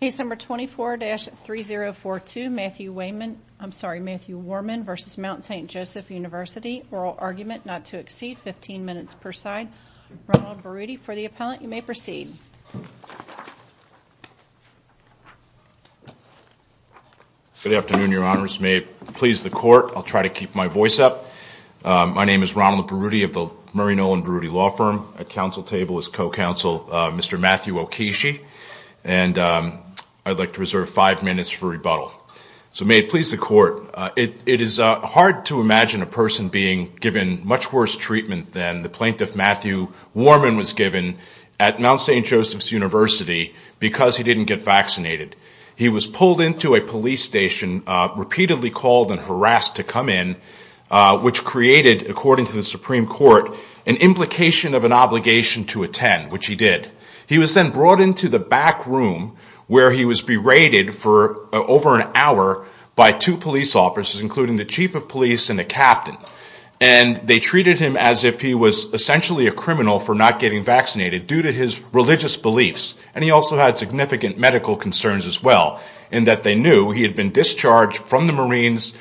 Case number 24-3042, Matthew Warman v. Mount St. Joseph University. Oral argument not to exceed 15 minutes per side. Ronald Berruti, for the appellant, you may proceed. Good afternoon, Your Honors. May it please the Court, I'll try to keep my voice up. My name is Ronald Berruti of the Murray Nolan Berruti Law Firm. At counsel table is co-counsel, Mr. Matthew Okishi. And I'd like to reserve five minutes for rebuttal. So may it please the Court, it is hard to imagine a person being given much worse treatment than the plaintiff, Matthew Warman, was given at Mount St. Joseph's University because he didn't get vaccinated. He was pulled into a police station, repeatedly called and harassed to come in, which created, according to the Supreme Court, an implication of an obligation to attend, which he did. He was then brought into the back room where he was berated for over an hour by two police officers, including the chief of police and a captain. And they treated him as if he was essentially a criminal for not getting vaccinated, due to his religious beliefs. And he also had significant medical concerns as well, in that they knew he had been discharged from the Marines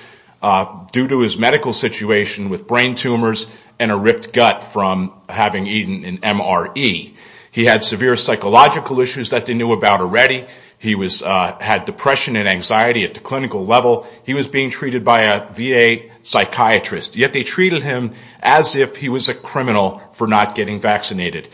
due to his medical situation with brain tumors and a ripped gut from having eaten an MRE. He had severe psychological issues that they knew about already. He had depression and anxiety at the clinical level. He was being treated by a VA psychiatrist. Yet they treated him as if he was a criminal for not getting vaccinated.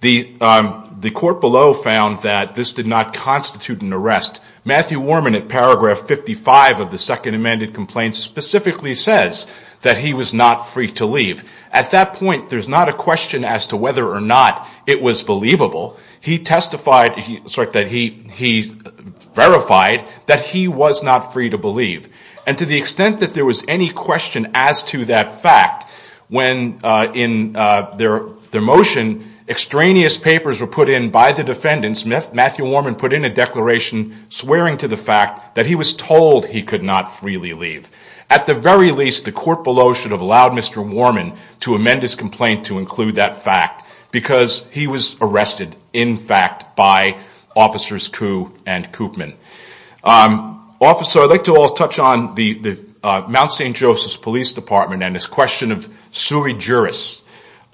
The court below found that this did not constitute an arrest. Matthew Worman, in paragraph 55 of the Second Amended Complaint, specifically says that he was not free to leave. At that point, there's not a question as to whether or not it was believable. He verified that he was not free to believe. And to the extent that there was any question as to that fact, when in their motion, extraneous papers were put in by the defendants, Matthew Worman put in a declaration swearing to the fact that he was told he could not freely leave. At the very least, the court below should have allowed Mr. Worman to amend his complaint to include that fact, because he was arrested, in fact, by officers Kuh and Koopman. Officer, I'd like to all touch on the Mount St. Joseph's Police Department and its question of sui juris.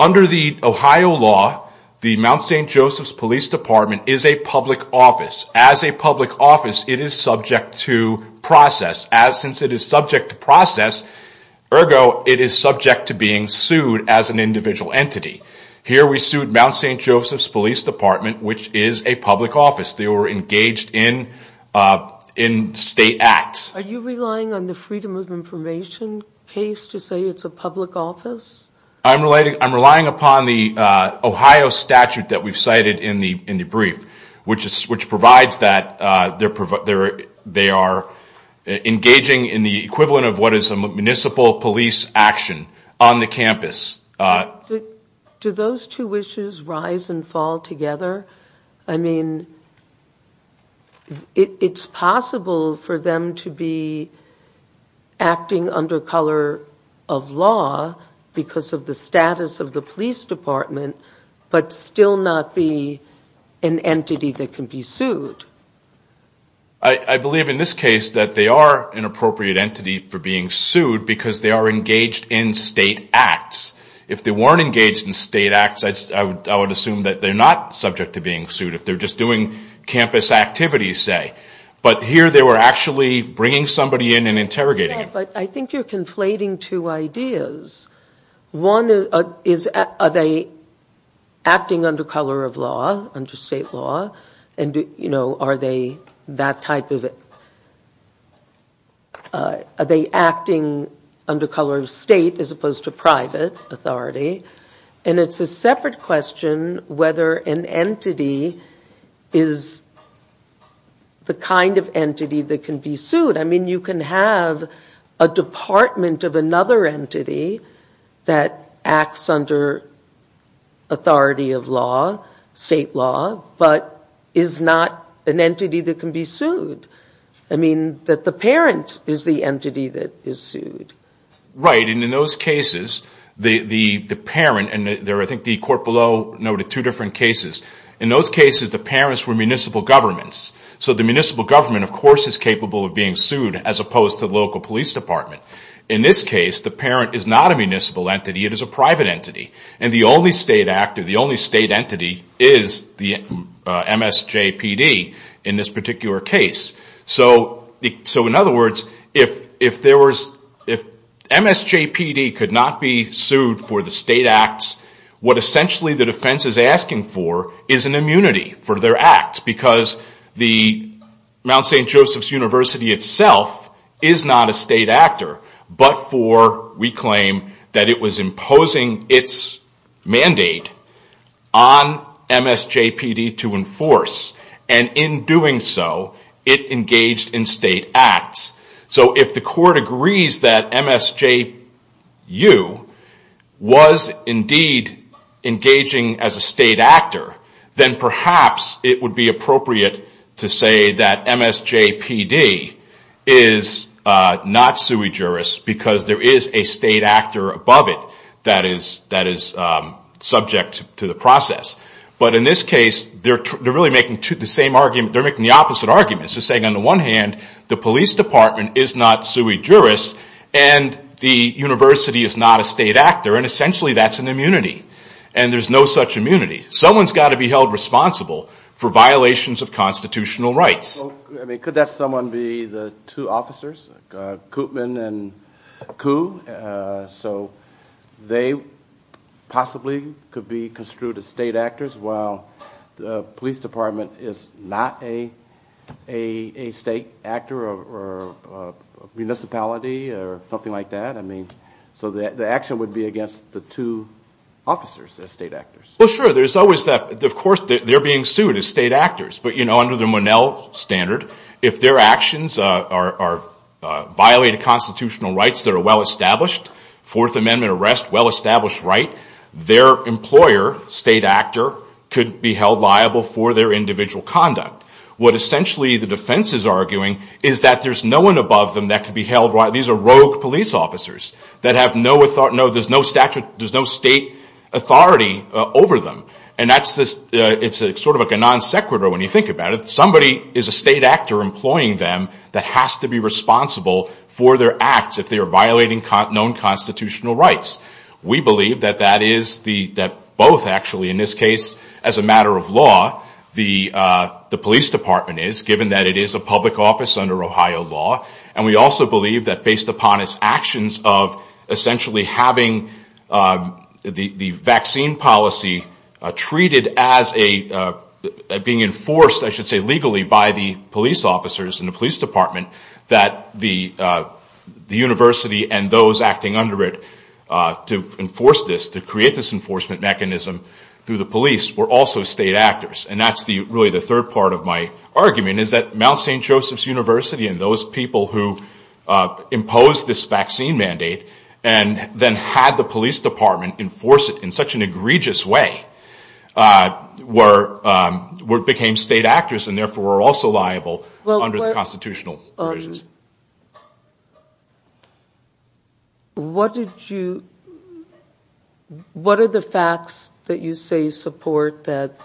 Under the Ohio law, the Mount St. Joseph's Police Department is a public office. As a public office, it is subject to process. Since it is subject to process, ergo, it is subject to being sued as an individual entity. Here we sued Mount St. Joseph's Police Department, which is a public office. They were engaged in state acts. Are you relying on the Freedom of Information case to say it's a public office? I'm relying upon the Ohio statute that we've cited in the brief, which provides that they are engaging in the equivalent of what is a municipal police action on the campus. Do those two issues rise and fall together? I mean, it's possible for them to be acting under color of law because of the status of the police department, but still not be an entity that can be sued. I believe in this case that they are an appropriate entity for being sued because they are engaged in state acts. If they weren't engaged in state acts, I would assume that they're not subject to being sued. If they're just doing campus activities, say. But here they were actually bringing somebody in and interrogating him. But I think you're conflating two ideas. One is, are they acting under color of law, under state law? Are they acting under color of state as opposed to private authority? And it's a separate question whether an entity is the kind of entity that can be sued. I mean, you can have a department of another entity that acts under authority of law, state law, but is not an entity that can be sued. I mean, that the parent is the entity that is sued. Right, and in those cases, the parent, and I think the court below noted two different cases. In those cases, the parents were municipal governments. So the municipal government, of course, is capable of being sued as opposed to the local police department. In this case, the parent is not a municipal entity. It is a private entity. And the only state actor, the only state entity, is the MSJPD in this particular case. So in other words, if MSJPD could not be sued for the state acts, what essentially the defense is asking for is an immunity for their acts. Because Mount St. Joseph's University itself is not a state actor, but for, we claim, that it was imposing its mandate on MSJPD to enforce. And in doing so, it engaged in state acts. So if the court agrees that MSJU was indeed engaging as a state actor, then perhaps it would be appropriate to say that MSJPD is not sui juris because there is a state actor above it that is subject to the process. But in this case, they're making the opposite arguments. They're saying, on the one hand, the police department is not sui juris, and the university is not a state actor. And essentially, that's an immunity. And there's no such immunity. Someone's got to be held responsible for violations of constitutional rights. Could that someone be the two officers, Koopman and Kuh? So they possibly could be construed as state actors, while the police department is not a state actor or municipality or something like that. So the action would be against the two officers as state actors. Well, sure. There's always that. Of course, they're being sued as state actors. But, you know, under the Monell standard, if their actions violate constitutional rights that are well established, Fourth Amendment arrest, well-established right, their employer, state actor, could be held liable for their individual conduct. What essentially the defense is arguing is that there's no one above them that could be held liable. These are rogue police officers that have no authority. There's no state authority over them. And it's sort of like a non sequitur when you think about it. Somebody is a state actor employing them that has to be responsible for their acts if they are violating known constitutional rights. We believe that that is both, actually, in this case, as a matter of law, the police department is, given that it is a public office under Ohio law. And we also believe that based upon its actions of, essentially, having the vaccine policy treated as being enforced, I should say, legally by the police officers and the police department, that the university and those acting under it to enforce this, to create this enforcement mechanism through the police, were also state actors. And that's really the third part of my argument, is that Mount St. Joseph's University and those people who imposed this vaccine mandate and then had the police department enforce it in such an egregious way, became state actors and, therefore, were also liable under the constitutional provisions. What are the facts that you say support that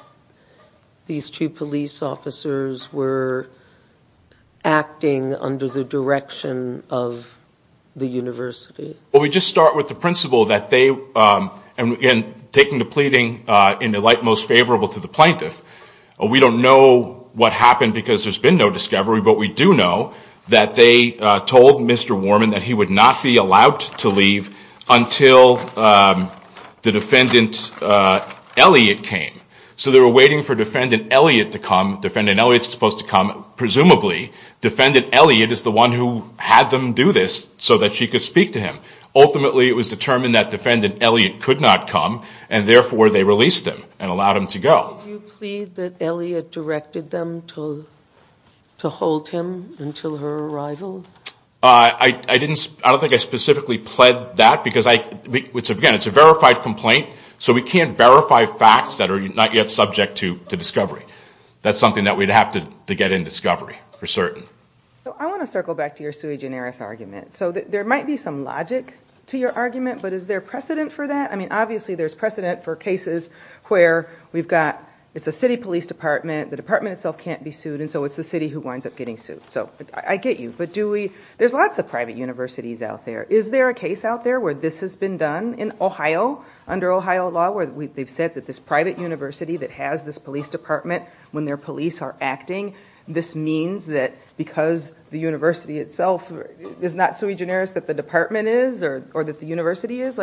these two police officers were acting under the direction of the university? Well, we just start with the principle that they, and taking the pleading in the light most favorable to the plaintiff, we don't know what happened because there's been no discovery, but we do know that they told Mr. Warman that he would not be allowed to leave until the defendant, Elliot, came. So they were waiting for defendant Elliot to come. Defendant Elliot's supposed to come, presumably. Defendant Elliot is the one who had them do this so that she could speak to him. Ultimately, it was determined that defendant Elliot could not come, and, therefore, they released him and allowed him to go. Did you plead that Elliot directed them to hold him until her arrival? I don't think I specifically pled that because, again, it's a verified complaint, so we can't verify facts that are not yet subject to discovery. That's something that we'd have to get in discovery for certain. So I want to circle back to your sui generis argument. So there might be some logic to your argument, but is there precedent for that? Obviously there's precedent for cases where it's a city police department, the department itself can't be sued, and so it's the city who winds up getting sued. So I get you, but there's lots of private universities out there. Is there a case out there where this has been done in Ohio, under Ohio law, where they've said that this private university that has this police department, when their police are acting, this means that because the university itself is not sui generis that the department is or that the university is?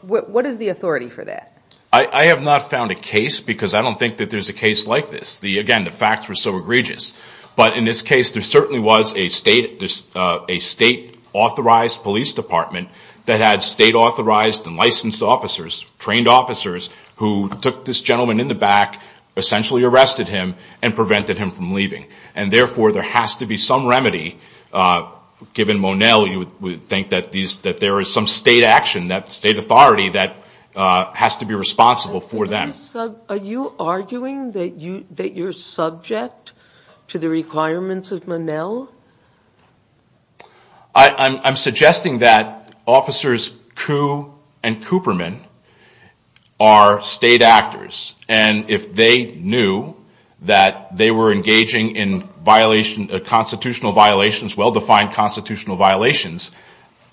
What is the authority for that? I have not found a case because I don't think that there's a case like this. Again, the facts were so egregious. But in this case there certainly was a state-authorized police department that had state-authorized and licensed officers, trained officers, who took this gentleman in the back, essentially arrested him, and prevented him from leaving. And therefore there has to be some remedy, given Monell, you would think that there is some state action, that state authority that has to be responsible for that. Are you arguing that you're subject to the requirements of Monell? I'm suggesting that Officers Kuh and Cooperman are state actors, and if they knew that they were engaging in constitutional violations, well-defined constitutional violations,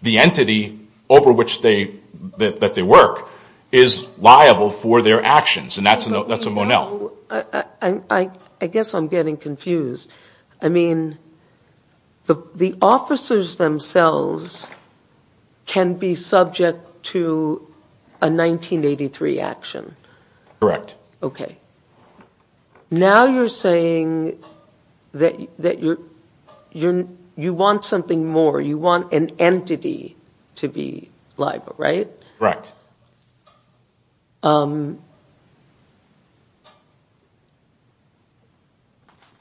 the entity over which they work is liable for their actions, and that's a Monell. I guess I'm getting confused. I mean, the officers themselves can be subject to a 1983 action? Correct. Okay. Now you're saying that you want something more, you want an entity to be liable, right? Correct.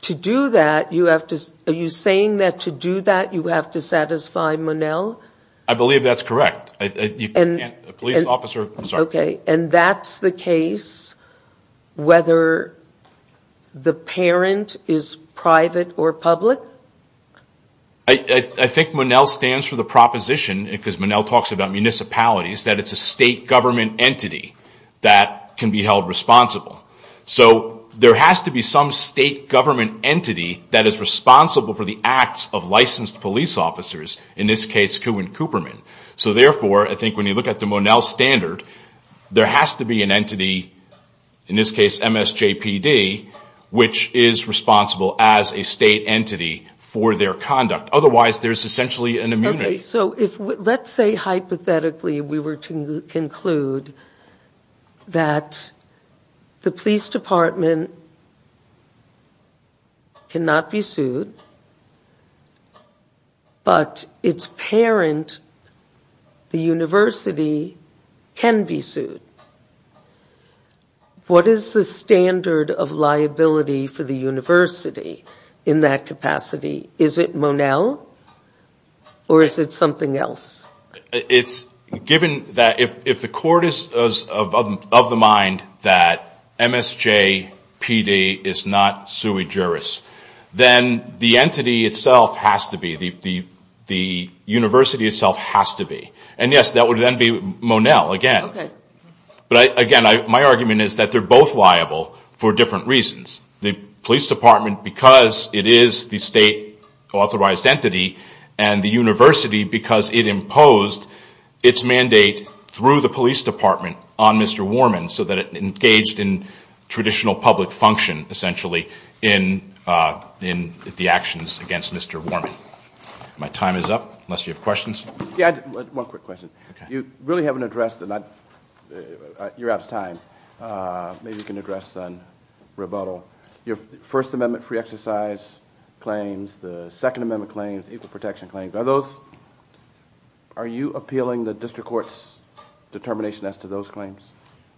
To do that, are you saying that to do that you have to satisfy Monell? I believe that's correct. And that's the case whether the parent is private or public? I think Monell stands for the proposition, because Monell talks about municipalities, that it's a state government entity that can be held responsible. So there has to be some state government entity that is responsible for the acts of licensed police officers, in this case Kuh and Cooperman. So therefore, I think when you look at the Monell standard, there has to be an entity, in this case MSJPD, which is responsible as a state entity for their conduct. Otherwise, there's essentially an immunity. Okay, so let's say hypothetically we were to conclude that the police department cannot be sued, but its parent, the university, can be sued. What is the standard of liability for the university in that capacity? Is it Monell, or is it something else? It's given that if the court is of the mind that MSJPD is not sui juris, then the entity itself has to be, the university itself has to be. And, yes, that would then be Monell again. But, again, my argument is that they're both liable for different reasons. The police department, because it is the state authorized entity, and the university because it imposed its mandate through the police department on Mr. Warman so that it engaged in traditional public function, essentially, in the actions against Mr. Warman. My time is up, unless you have questions. One quick question. You really haven't addressed, and you're out of time. Maybe you can address on rebuttal. Your First Amendment free exercise claims, the Second Amendment claims, equal protection claims, are those, are you appealing the district court's determination as to those claims?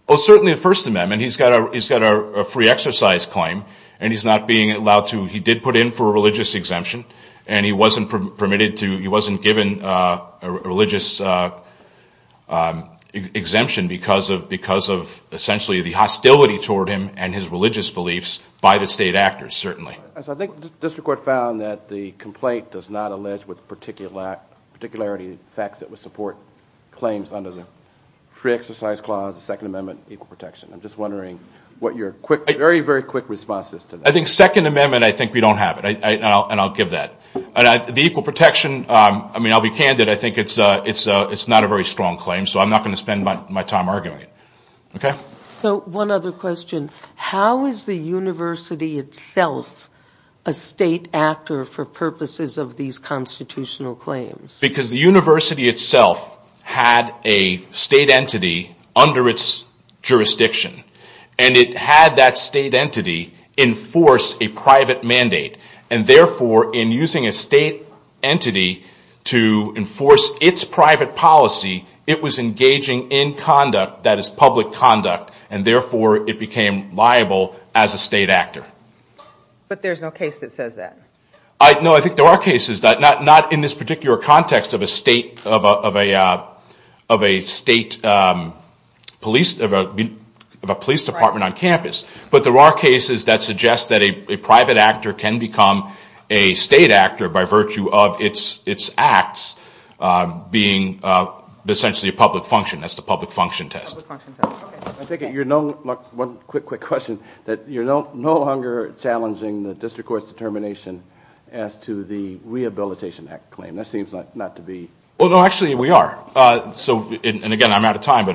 Well, certainly the First Amendment. He's got a free exercise claim, and he's not being allowed to, he did put in for a religious exemption, and he wasn't permitted to, he wasn't given a religious exemption because of, essentially, the hostility toward him and his religious beliefs by the state actors, certainly. I think the district court found that the complaint does not allege with particularity the facts that would support claims under the free exercise clause, the Second Amendment, equal protection. I'm just wondering what your very, very quick response is to that. I think Second Amendment, I think we don't have it, and I'll give that. The equal protection, I mean, I'll be candid. I think it's not a very strong claim, so I'm not going to spend my time arguing it. Okay? So one other question. How is the university itself a state actor for purposes of these constitutional claims? Because the university itself had a state entity under its jurisdiction, and it had that state entity enforce a private mandate, and therefore in using a state entity to enforce its private policy, it was engaging in conduct that is public conduct, and therefore it became liable as a state actor. But there's no case that says that. No, I think there are cases. Not in this particular context of a state police department on campus, but there are cases that suggest that a private actor can become a state actor by virtue of its acts being essentially a public function. That's the public function test. One quick, quick question. You're no longer challenging the district court's determination as to the Rehabilitation Act claim. That seems not to be. Well, no, actually we are. And, again, I'm out of time.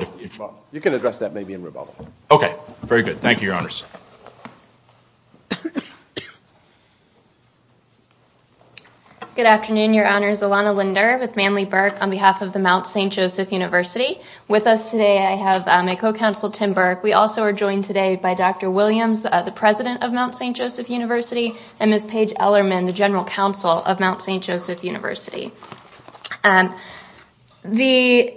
You can address that maybe in rebuttal. Okay, very good. Thank you, Your Honors. Good afternoon, Your Honors. Alana Linder with Manley Burke on behalf of the Mount St. Joseph University. With us today I have my co-counsel, Tim Burke. We also are joined today by Dr. Williams, the president of Mount St. Joseph University, and Ms. Paige Ellermann, the general counsel of Mount St. Joseph University. The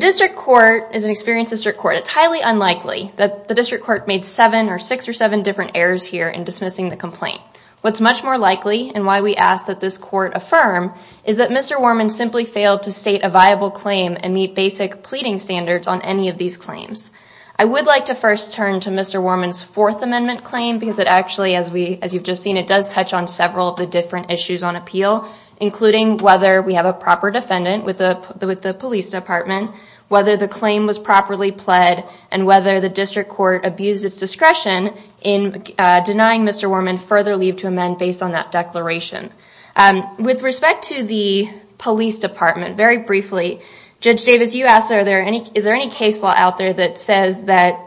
district court is an experienced district court. It's highly unlikely. The district court made seven or six or seven different errors here in dismissing the complaint. What's much more likely, and why we ask that this court affirm, is that Mr. Worman simply failed to state a viable claim and meet basic pleading standards on any of these claims. I would like to first turn to Mr. Worman's Fourth Amendment claim because it actually, as you've just seen, it does touch on several of the different issues on appeal, including whether we have a proper defendant with the police department, whether the claim was properly pled, and whether the district court abused its discretion in denying Mr. Worman further leave to amend based on that declaration. With respect to the police department, very briefly, Judge Davis, you asked, is there any case law out there that says that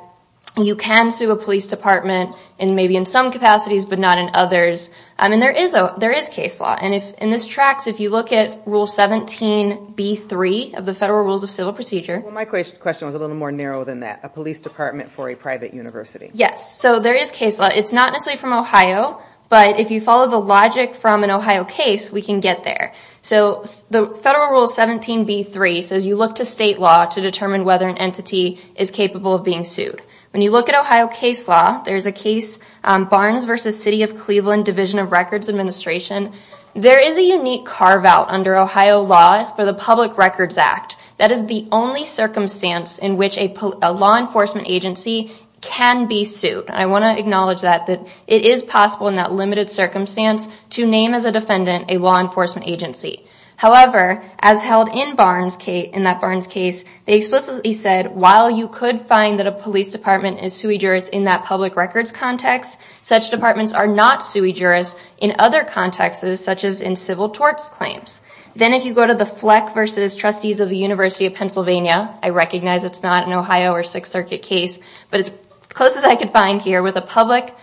you can sue a police department, maybe in some capacities but not in others? There is case law. In this tract, if you look at Rule 17b-3 of the Federal Rules of Civil Procedure. My question was a little more narrow than that. A police department for a private university. Yes. There is case law. It's not necessarily from Ohio, but if you follow the logic from an Ohio case, we can get there. The Federal Rule 17b-3 says you look to state law to determine whether an entity is capable of being sued. When you look at Ohio case law, there's a case, Barnes v. City of Cleveland Division of Records Administration. There is a unique carve-out under Ohio law for the Public Records Act. That is the only circumstance in which a law enforcement agency can be sued. I want to acknowledge that it is possible in that limited circumstance to name as a defendant a law enforcement agency. However, as held in that Barnes case, they explicitly said, while you could find that a police department is sui juris in that public records context, such departments are not sui juris in other contexts such as in civil torts claims. Then if you go to the Fleck v. Trustees of the University of Pennsylvania, I recognize it's not an Ohio or Sixth Circuit case, but it's close as I could find here with a private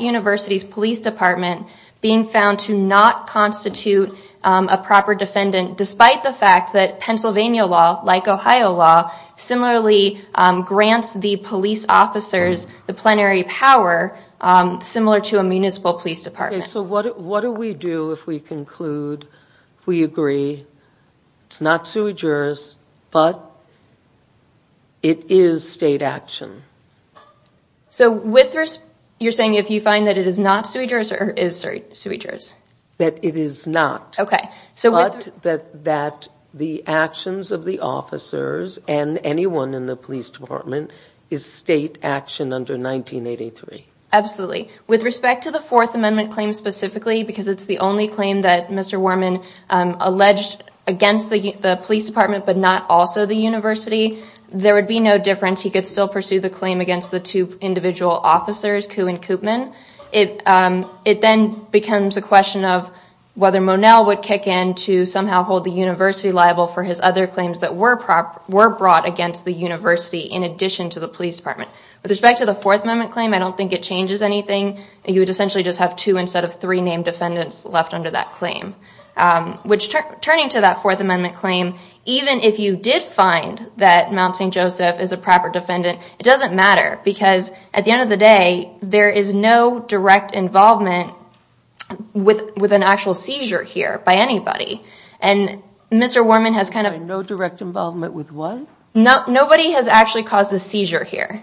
university's police department being found to not constitute a proper defendant despite the fact that Pennsylvania law, like Ohio law, similarly grants the police officers the plenary power similar to a municipal police department. What do we do if we conclude we agree it's not sui juris, but it is state action? You're saying if you find that it is not sui juris or is sui juris? That it is not, but that the actions of the officers and anyone in the police department is state action under 1983. Absolutely. With respect to the Fourth Amendment claim specifically, because it's the only claim that Mr. Worman alleged against the police department but not also the university, there would be no difference. He could still pursue the claim against the two individual officers, Kuhn and Koopman. It then becomes a question of whether Monell would kick in to somehow hold the university liable for his other claims that were brought against the university in addition to the police department. With respect to the Fourth Amendment claim, I don't think it changes anything. He would essentially just have two instead of three named defendants left under that claim. Turning to that Fourth Amendment claim, even if you did find that Mount St. Joseph is a proper defendant, it doesn't matter because at the end of the day, there is no direct involvement with an actual seizure here by anybody. And Mr. Worman has kind of- No direct involvement with what? Nobody has actually caused a seizure here.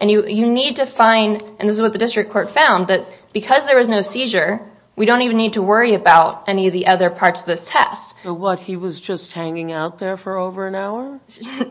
And you need to find, and this is what the district court found, that because there was no seizure, we don't even need to worry about any of the other parts of this test. What, he was just hanging out there for over an hour?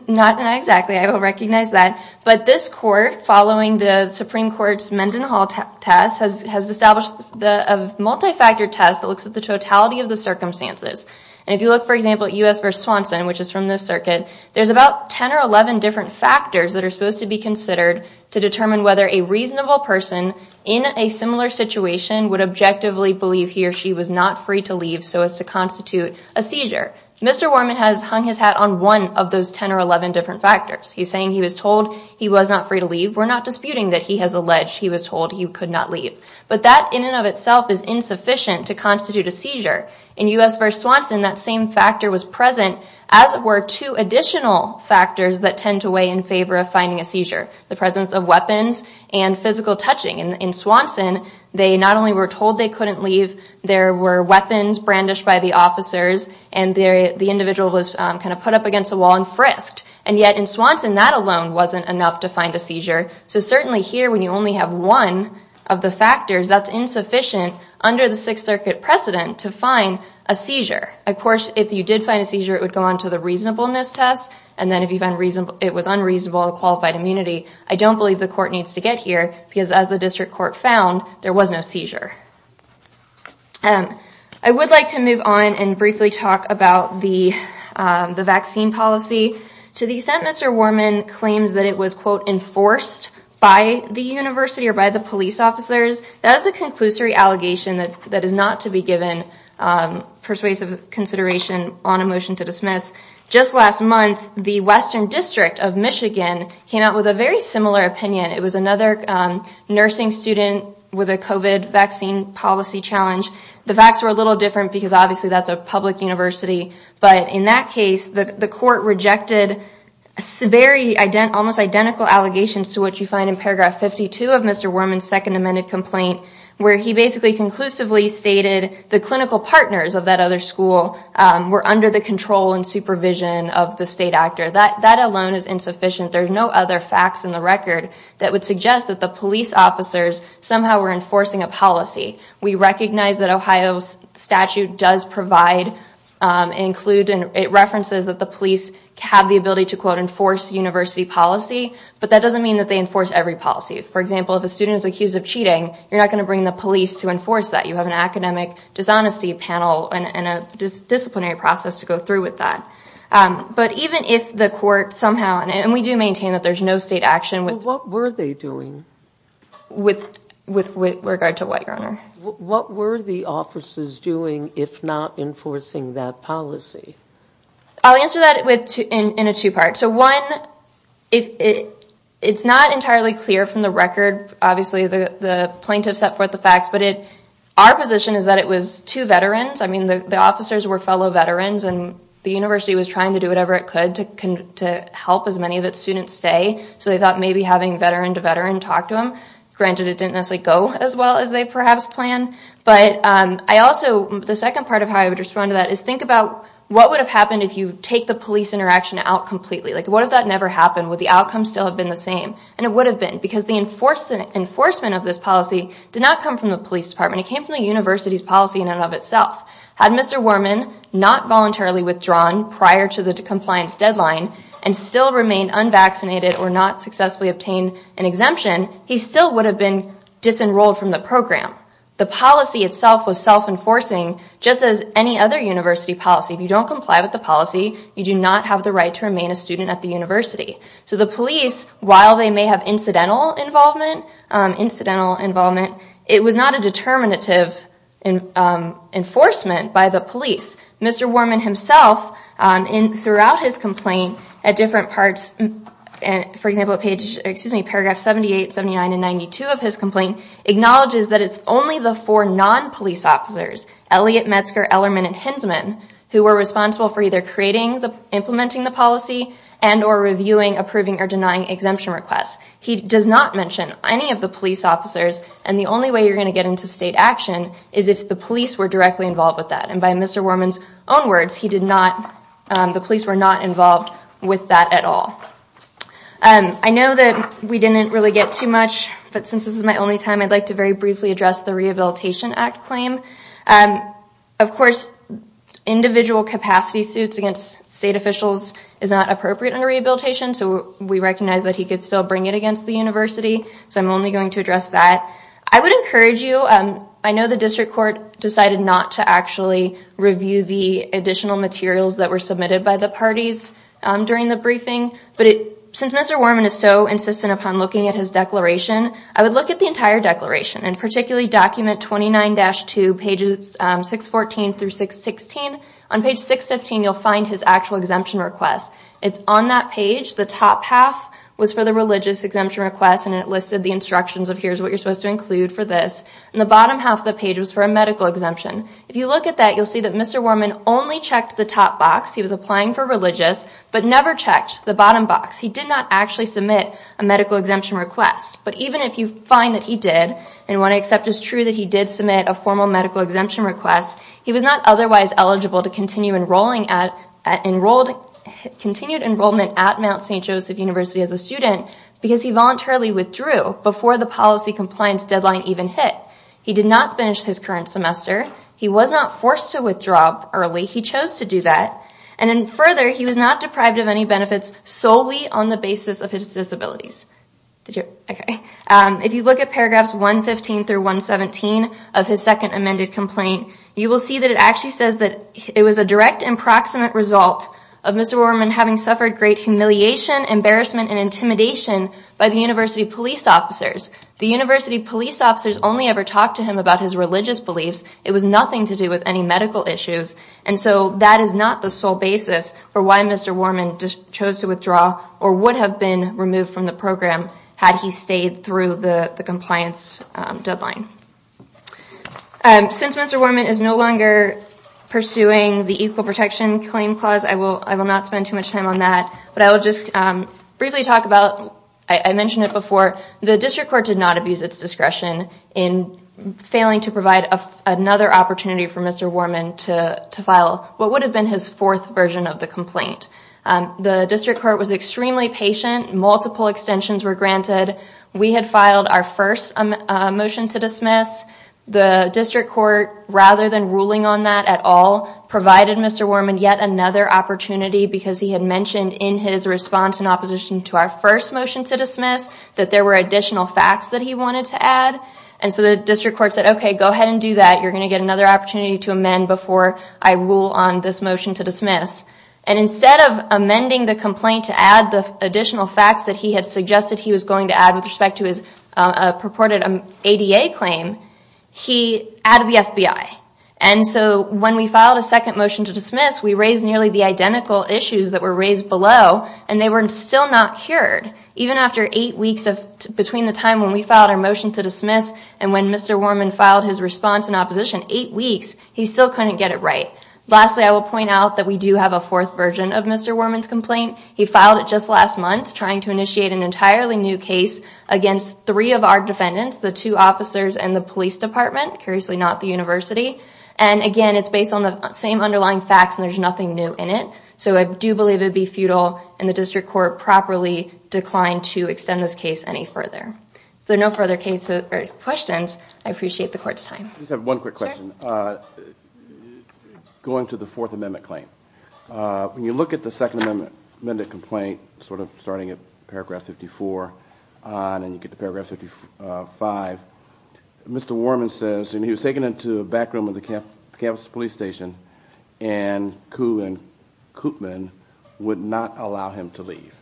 Not exactly. I don't recognize that. But this court, following the Supreme Court's Mendenhall test, has established a multi-factor test that looks at the totality of the circumstances. And if you look, for example, at U.S. v. Swanson, which is from this circuit, there's about 10 or 11 different factors that are supposed to be considered to determine whether a reasonable person in a similar situation would objectively believe he or she was not free to leave so as to constitute a seizure. Mr. Worman has hung his hat on one of those 10 or 11 different factors. He's saying he was told he was not free to leave. We're not disputing that he has alleged he was told he could not leave. But that in and of itself is insufficient to constitute a seizure. In U.S. v. Swanson, that same factor was present, as were two additional factors that tend to weigh in favor of finding a seizure, the presence of weapons and physical touching. In Swanson, they not only were told they couldn't leave, there were weapons brandished by the officers, and the individual was kind of put up against a wall and frisked. And yet in Swanson, that alone wasn't enough to find a seizure. So certainly here, when you only have one of the factors, that's insufficient under the Sixth Circuit precedent to find a seizure. Of course, if you did find a seizure, it would go on to the reasonableness test, and then if it was unreasonable or qualified immunity, I don't believe the court needs to get here because as the district court found, there was no seizure. I would like to move on and briefly talk about the vaccine policy. To the extent Mr. Warman claims that it was, quote, enforced by the university or by the police officers, that is a conclusory allegation that is not to be given persuasive consideration on a motion to dismiss. Just last month, the Western District of Michigan came out with a very similar opinion. It was another nursing student with a COVID vaccine policy challenge. The facts were a little different because obviously that's a public university, but in that case, the court rejected almost identical allegations to what you find in paragraph 52 of Mr. Warman's second amended complaint, where he basically conclusively stated the clinical partners of that other school were under the control and supervision of the state actor. That alone is insufficient. There's no other facts in the record that would suggest that the police officers somehow were enforcing a policy. We recognize that Ohio's statute does provide and include and it references that the police have the ability to, quote, enforce university policy, but that doesn't mean that they enforce every policy. For example, if a student is accused of cheating, you're not going to bring the police to enforce that. You have an academic dishonesty panel and a disciplinary process to go through with that. But even if the court somehow, and we do maintain that there's no state action. Well, what were they doing? With regard to what, Your Honor? What were the officers doing if not enforcing that policy? I'll answer that in a two-part. So one, it's not entirely clear from the record. Obviously, the plaintiff set forth the facts, but our position is that it was two veterans. I mean, the officers were fellow veterans and the university was trying to do whatever it could to help as many of its students stay. So they thought maybe having veteran-to-veteran talk to them. Granted, it didn't necessarily go as well as they perhaps planned. But I also, the second part of how I would respond to that is think about what would have happened if you take the police interaction out completely? Like, what if that never happened? Would the outcome still have been the same? And it would have been because the enforcement of this policy did not come from the police department. It came from the university's policy in and of itself. Had Mr. Worman not voluntarily withdrawn prior to the compliance deadline and still remained unvaccinated or not successfully obtained an exemption, he still would have been disenrolled from the program. The policy itself was self-enforcing, just as any other university policy. If you don't comply with the policy, you do not have the right to remain a student at the university. So the police, while they may have incidental involvement, it was not a determinative enforcement by the police. Mr. Worman himself, throughout his complaint at different parts, for example, at paragraph 78, 79, and 92 of his complaint, acknowledges that it's only the four non-police officers, Elliott, Metzger, Ellermann, and Hinsman, who were responsible for either creating, implementing the policy, and or reviewing, approving, or denying exemption requests. He does not mention any of the police officers, and the only way you're going to get into state action is if the police were directly involved with that. And by Mr. Worman's own words, he did not, the police were not involved with that at all. I know that we didn't really get too much, but since this is my only time, I'd like to very briefly address the Rehabilitation Act claim. Of course, individual capacity suits against state officials is not appropriate under rehabilitation, so we recognize that he could still bring it against the university, so I'm only going to address that. I would encourage you, I know the district court decided not to actually review the additional materials that were submitted by the parties during the briefing, but since Mr. Worman is so insistent upon looking at his declaration, I would look at the entire declaration, and particularly document 29-2, pages 614 through 616. On page 615, you'll find his actual exemption request. It's on that page. The top half was for the religious exemption request, and it listed the instructions of here's what you're supposed to include for this. The bottom half of the page was for a medical exemption. If you look at that, you'll see that Mr. Worman only checked the top box. He was applying for religious, but never checked the bottom box. He did not actually submit a medical exemption request. But even if you find that he did, and what I accept is true that he did submit a formal medical exemption request, he was not otherwise eligible to continue enrolling at Mount St. Joseph University as a student because he voluntarily withdrew before the policy compliance deadline even hit. He did not finish his current semester. He was not forced to withdraw early. He chose to do that. And further, he was not deprived of any benefits solely on the basis of his disabilities. If you look at paragraphs 115 through 117 of his second amended complaint, you will see that it actually says that it was a direct and proximate result of Mr. Worman having suffered great humiliation, embarrassment, and intimidation by the university police officers. The university police officers only ever talked to him about his religious beliefs. It was nothing to do with any medical issues. And so that is not the sole basis for why Mr. Worman chose to withdraw or would have been removed from the program had he stayed through the compliance deadline. Since Mr. Worman is no longer pursuing the Equal Protection Claim Clause, I will not spend too much time on that. But I will just briefly talk about, I mentioned it before, the district court did not abuse its discretion in failing to provide another opportunity for Mr. Worman to file what would have been his fourth version of the complaint. The district court was extremely patient. Multiple extensions were granted. We had filed our first motion to dismiss. The district court, rather than ruling on that at all, provided Mr. Worman yet another opportunity because he had mentioned in his response in opposition to our first motion to dismiss that there were additional facts that he wanted to add. And so the district court said, okay, go ahead and do that. You're going to get another opportunity to amend before I rule on this motion to dismiss. And instead of amending the complaint to add the additional facts that he had suggested he was going to add with respect to his purported ADA claim, he added the FBI. And so when we filed a second motion to dismiss, we raised nearly the identical issues that were raised below, and they were still not cured. Even after eight weeks between the time when we filed our motion to dismiss and when Mr. Worman filed his response in opposition, eight weeks, he still couldn't get it right. Lastly, I will point out that we do have a fourth version of Mr. Worman's complaint. He filed it just last month trying to initiate an entirely new case against three of our defendants, the two officers and the police department, curiously not the university. And, again, it's based on the same underlying facts and there's nothing new in it. So I do believe it would be futile and the district court properly declined to extend this case any further. If there are no further questions, I appreciate the court's time. I just have one quick question. Going to the Fourth Amendment claim, when you look at the Second Amendment complaint sort of starting at paragraph 54 and you get to paragraph 55, Mr. Worman says, and he was taken into the back room of the Kansas police station and Kuh and Koopman would not allow him to leave.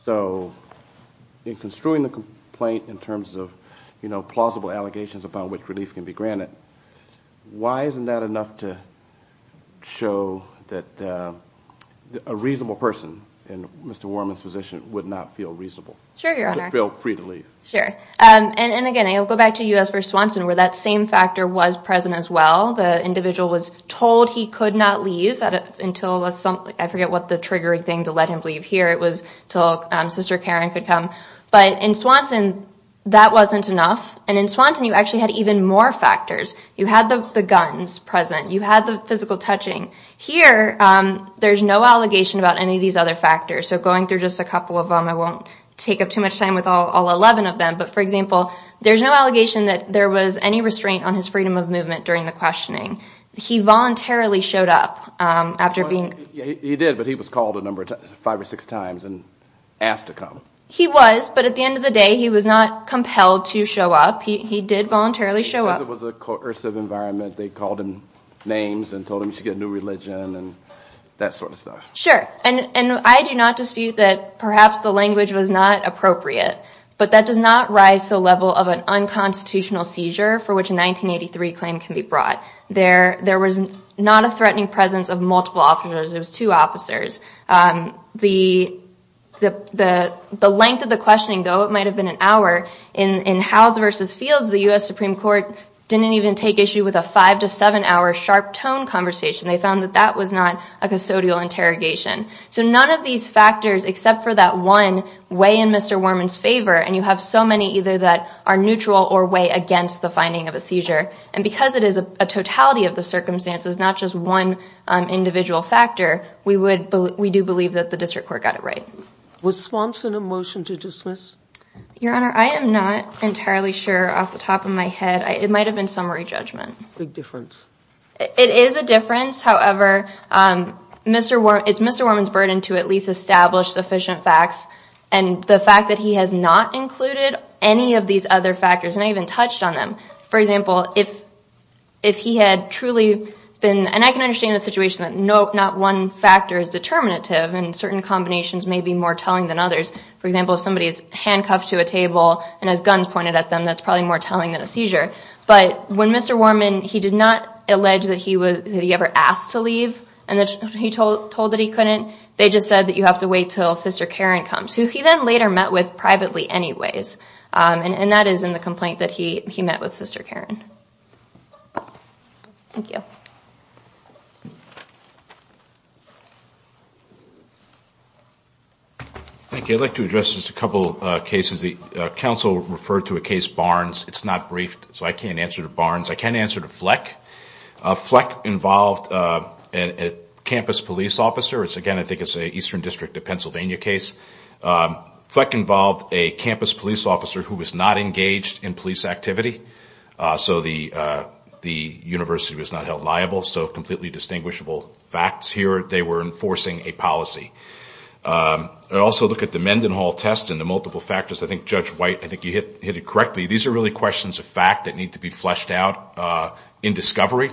So in construing the complaint in terms of plausible allegations upon which relief can be granted, why isn't that enough to show that a reasonable person, in Mr. Worman's position, would not feel reasonable? Sure, Your Honor. Would feel free to leave. Sure. And, again, I'll go back to U.S. v. Swanson where that same factor was present as well. The individual was told he could not leave until, I forget what the triggering thing to let him leave here. It was until Sister Karen could come. But in Swanson, that wasn't enough. And in Swanson, you actually had even more factors. You had the guns present. You had the physical touching. Here, there's no allegation about any of these other factors. So going through just a couple of them, I won't take up too much time with all 11 of them. But, for example, there's no allegation that there was any restraint on his freedom of movement during the questioning. He voluntarily showed up after being. He did, but he was called a number of times, five or six times, and asked to come. He was, but at the end of the day, he was not compelled to show up. He did voluntarily show up. He said it was a coercive environment. They called him names and told him he should get a new religion and that sort of stuff. Sure, and I do not dispute that perhaps the language was not appropriate. But that does not rise to the level of an unconstitutional seizure for which a 1983 claim can be brought. There was not a threatening presence of multiple officers. It was two officers. The length of the questioning, though, it might have been an hour. In Howes v. Fields, the U.S. Supreme Court didn't even take issue with a five- to seven-hour sharp-tone conversation. They found that that was not a custodial interrogation. So none of these factors except for that one weigh in Mr. Worman's favor, and you have so many either that are neutral or weigh against the finding of a seizure. And because it is a totality of the circumstances, not just one individual factor, we do believe that the district court got it right. Was Swanson a motion to dismiss? Your Honor, I am not entirely sure off the top of my head. It might have been summary judgment. Big difference. It is a difference. However, it's Mr. Worman's burden to at least establish sufficient facts. And the fact that he has not included any of these other factors, and I even touched on them. For example, if he had truly been, and I can understand the situation that not one factor is determinative and certain combinations may be more telling than others. For example, if somebody is handcuffed to a table and has guns pointed at them, that's probably more telling than a seizure. But when Mr. Worman, he did not allege that he ever asked to leave and he told that he couldn't, they just said that you have to wait until Sister Karen comes, who he then later met with privately anyways. And that is in the complaint that he met with Sister Karen. Thank you. Thank you. I'd like to address just a couple of cases. The counsel referred to a case Barnes. It's not briefed, so I can't answer to Barnes. I can answer to Fleck. Fleck involved a campus police officer. Again, I think it's an Eastern District of Pennsylvania case. Fleck involved a campus police officer who was not engaged in police activity. So the university was not held liable. So completely distinguishable facts here. They were enforcing a policy. I'd also look at the Mendenhall test and the multiple factors. I think Judge White, I think you hit it correctly. These are really questions of fact that need to be fleshed out in discovery.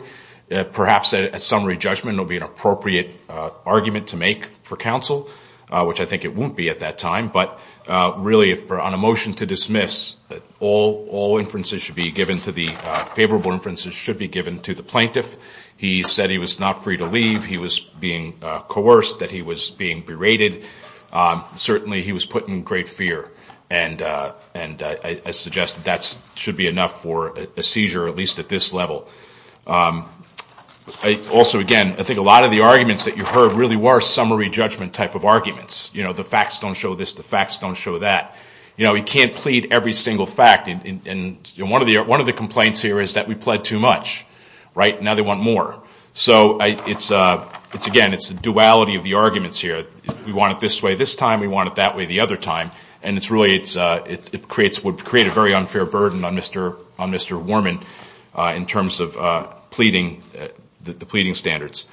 Perhaps a summary judgment will be an appropriate argument to make for counsel, which I think it won't be at that time. But really on a motion to dismiss, all inferences should be given to the favorable inferences should be given to the plaintiff. He said he was not free to leave. He was being coerced, that he was being berated. Certainly he was put in great fear and I suggest that should be enough for a seizure, at least at this level. Also, again, I think a lot of the arguments that you heard really were summary judgment type of arguments. The facts don't show this. The facts don't show that. You can't plead every single fact. One of the complaints here is that we pled too much. Now they want more. So again, it's the duality of the arguments here. We want it this way this time. We want it that way the other time. And it really would create a very unfair burden on Mr. Warman in terms of the pleading standards.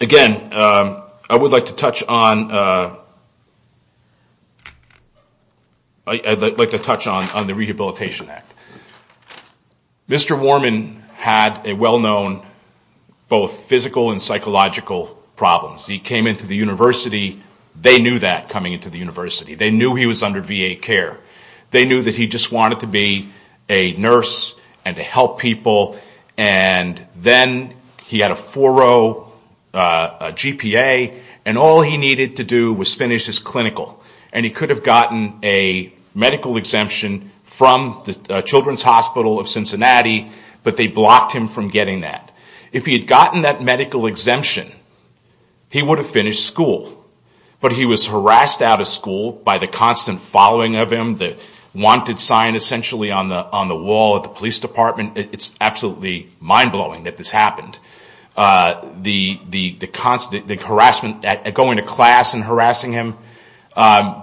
Again, I would like to touch on the Rehabilitation Act. Mr. Warman had a well-known both physical and psychological problems. He came into the university. They knew that coming into the university. They knew he was under VA care. They knew that he just wanted to be a nurse and to help people. And then he had a four-row GPA and all he needed to do was finish his clinical. And he could have gotten a medical exemption from the Children's Hospital of Cincinnati, but they blocked him from getting that. If he had gotten that medical exemption, he would have finished school. But he was harassed out of school by the constant following of him, the wanted sign essentially on the wall at the police department. It's absolutely mind-blowing that this happened. The harassment, going to class and harassing him.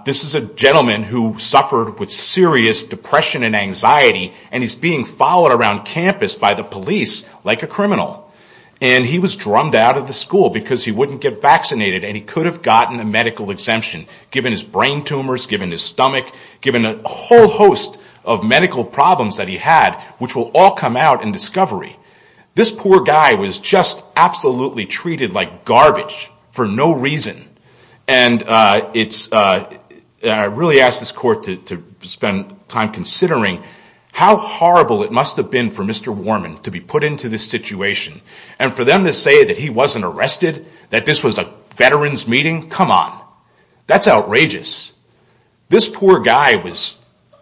This is a gentleman who suffered with serious depression and anxiety, and he's being followed around campus by the police like a criminal. And he was drummed out of the school because he wouldn't get vaccinated and he could have gotten a medical exemption given his brain tumors, given his stomach, given a whole host of medical problems that he had, which will all come out in discovery. This poor guy was just absolutely treated like garbage for no reason. And I really ask this court to spend time considering how horrible it must have been for Mr. Warman to be put into this situation. And for them to say that he wasn't arrested, that this was a veterans meeting, come on. That's outrageous. This poor guy,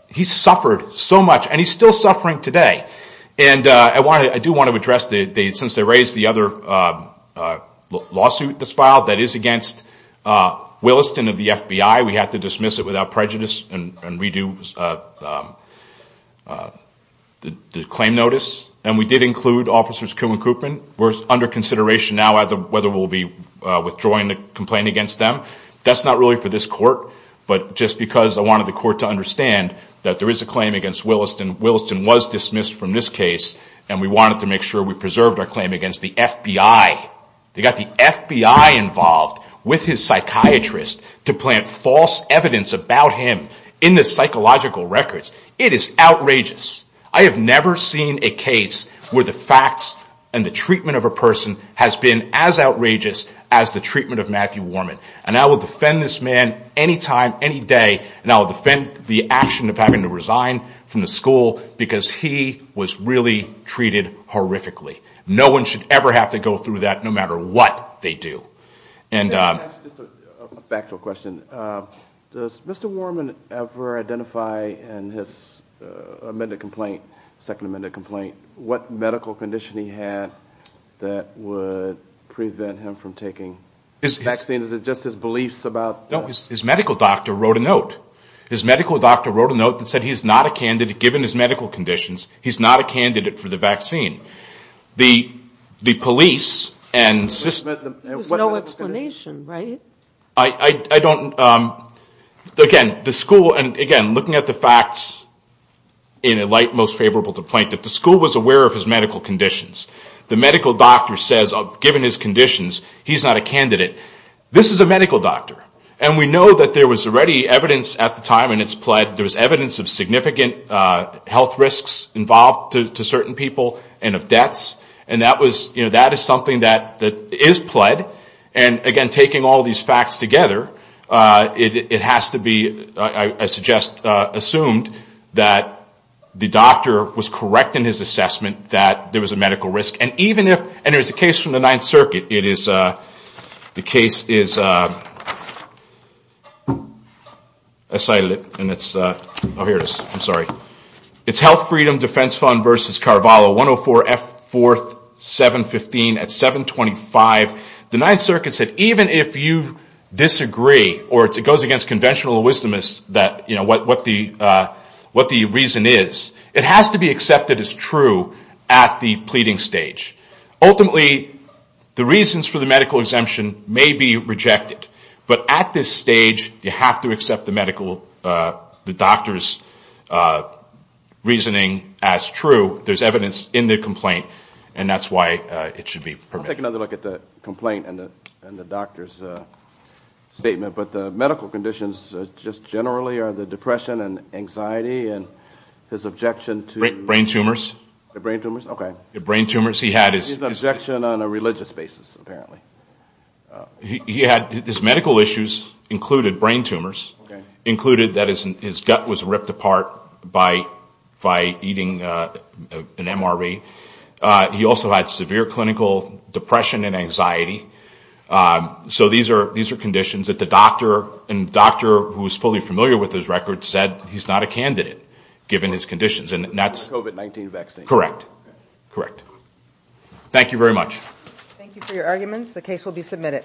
he suffered so much and he's still suffering today. And I do want to address, since they raised the other lawsuit that's filed that is against Williston of the FBI, we have to dismiss it without prejudice and redo the claim notice. And we did include Officers Kuhn and Coopman. We're under consideration now whether we'll be withdrawing the complaint against them. That's not really for this court, but just because I wanted the court to understand that there is a claim against Williston. Williston was dismissed from this case, and we wanted to make sure we preserved our claim against the FBI. They got the FBI involved with his psychiatrist to plant false evidence about him in the psychological records. It is outrageous. I have never seen a case where the facts and the treatment of a person has been as outrageous as the treatment of Matthew Warman. And I will defend this man any time, any day. And I will defend the action of having to resign from the school because he was really treated horrifically. No one should ever have to go through that, no matter what they do. Back to a question. Does Mr. Warman ever identify in his amended complaint, second amended complaint, what medical condition he had that would prevent him from taking the vaccine? Is it just his beliefs about that? No, his medical doctor wrote a note. His medical doctor wrote a note that said he's not a candidate, The police and system. There's no explanation, right? I don't. Again, the school, and again, looking at the facts in a light most favorable to plaintiff, the school was aware of his medical conditions. The medical doctor says, given his conditions, he's not a candidate. This is a medical doctor, and we know that there was already evidence at the time when it's pled, there was evidence of significant health risks involved to certain people and of deaths, and that is something that is pled. And again, taking all these facts together, it has to be, I suggest, assumed, that the doctor was correct in his assessment that there was a medical risk. And there's a case from the Ninth Circuit. The case is Health Freedom Defense Fund v. Carvalho, 104 F. 4th, 715 at 725. The Ninth Circuit said even if you disagree, or it goes against conventional wisdom, what the reason is, it has to be accepted as true at the pleading stage. Ultimately, the reasons for the medical exemption may be rejected, but at this stage you have to accept the doctor's reasoning as true. There's evidence in the complaint, and that's why it should be permitted. I'll take another look at the complaint and the doctor's statement. But the medical conditions just generally are the depression and anxiety and his objection to... Brain tumors. Brain tumors, okay. Brain tumors. His objection on a religious basis, apparently. His medical issues included brain tumors, included that his gut was ripped apart by eating an MRV. He also had severe clinical depression and anxiety. So these are conditions that the doctor, and the doctor who is fully familiar with his records, said he's not a candidate given his conditions, and that's... COVID-19 vaccine. Correct. Thank you very much. Thank you for your arguments. The case will be submitted.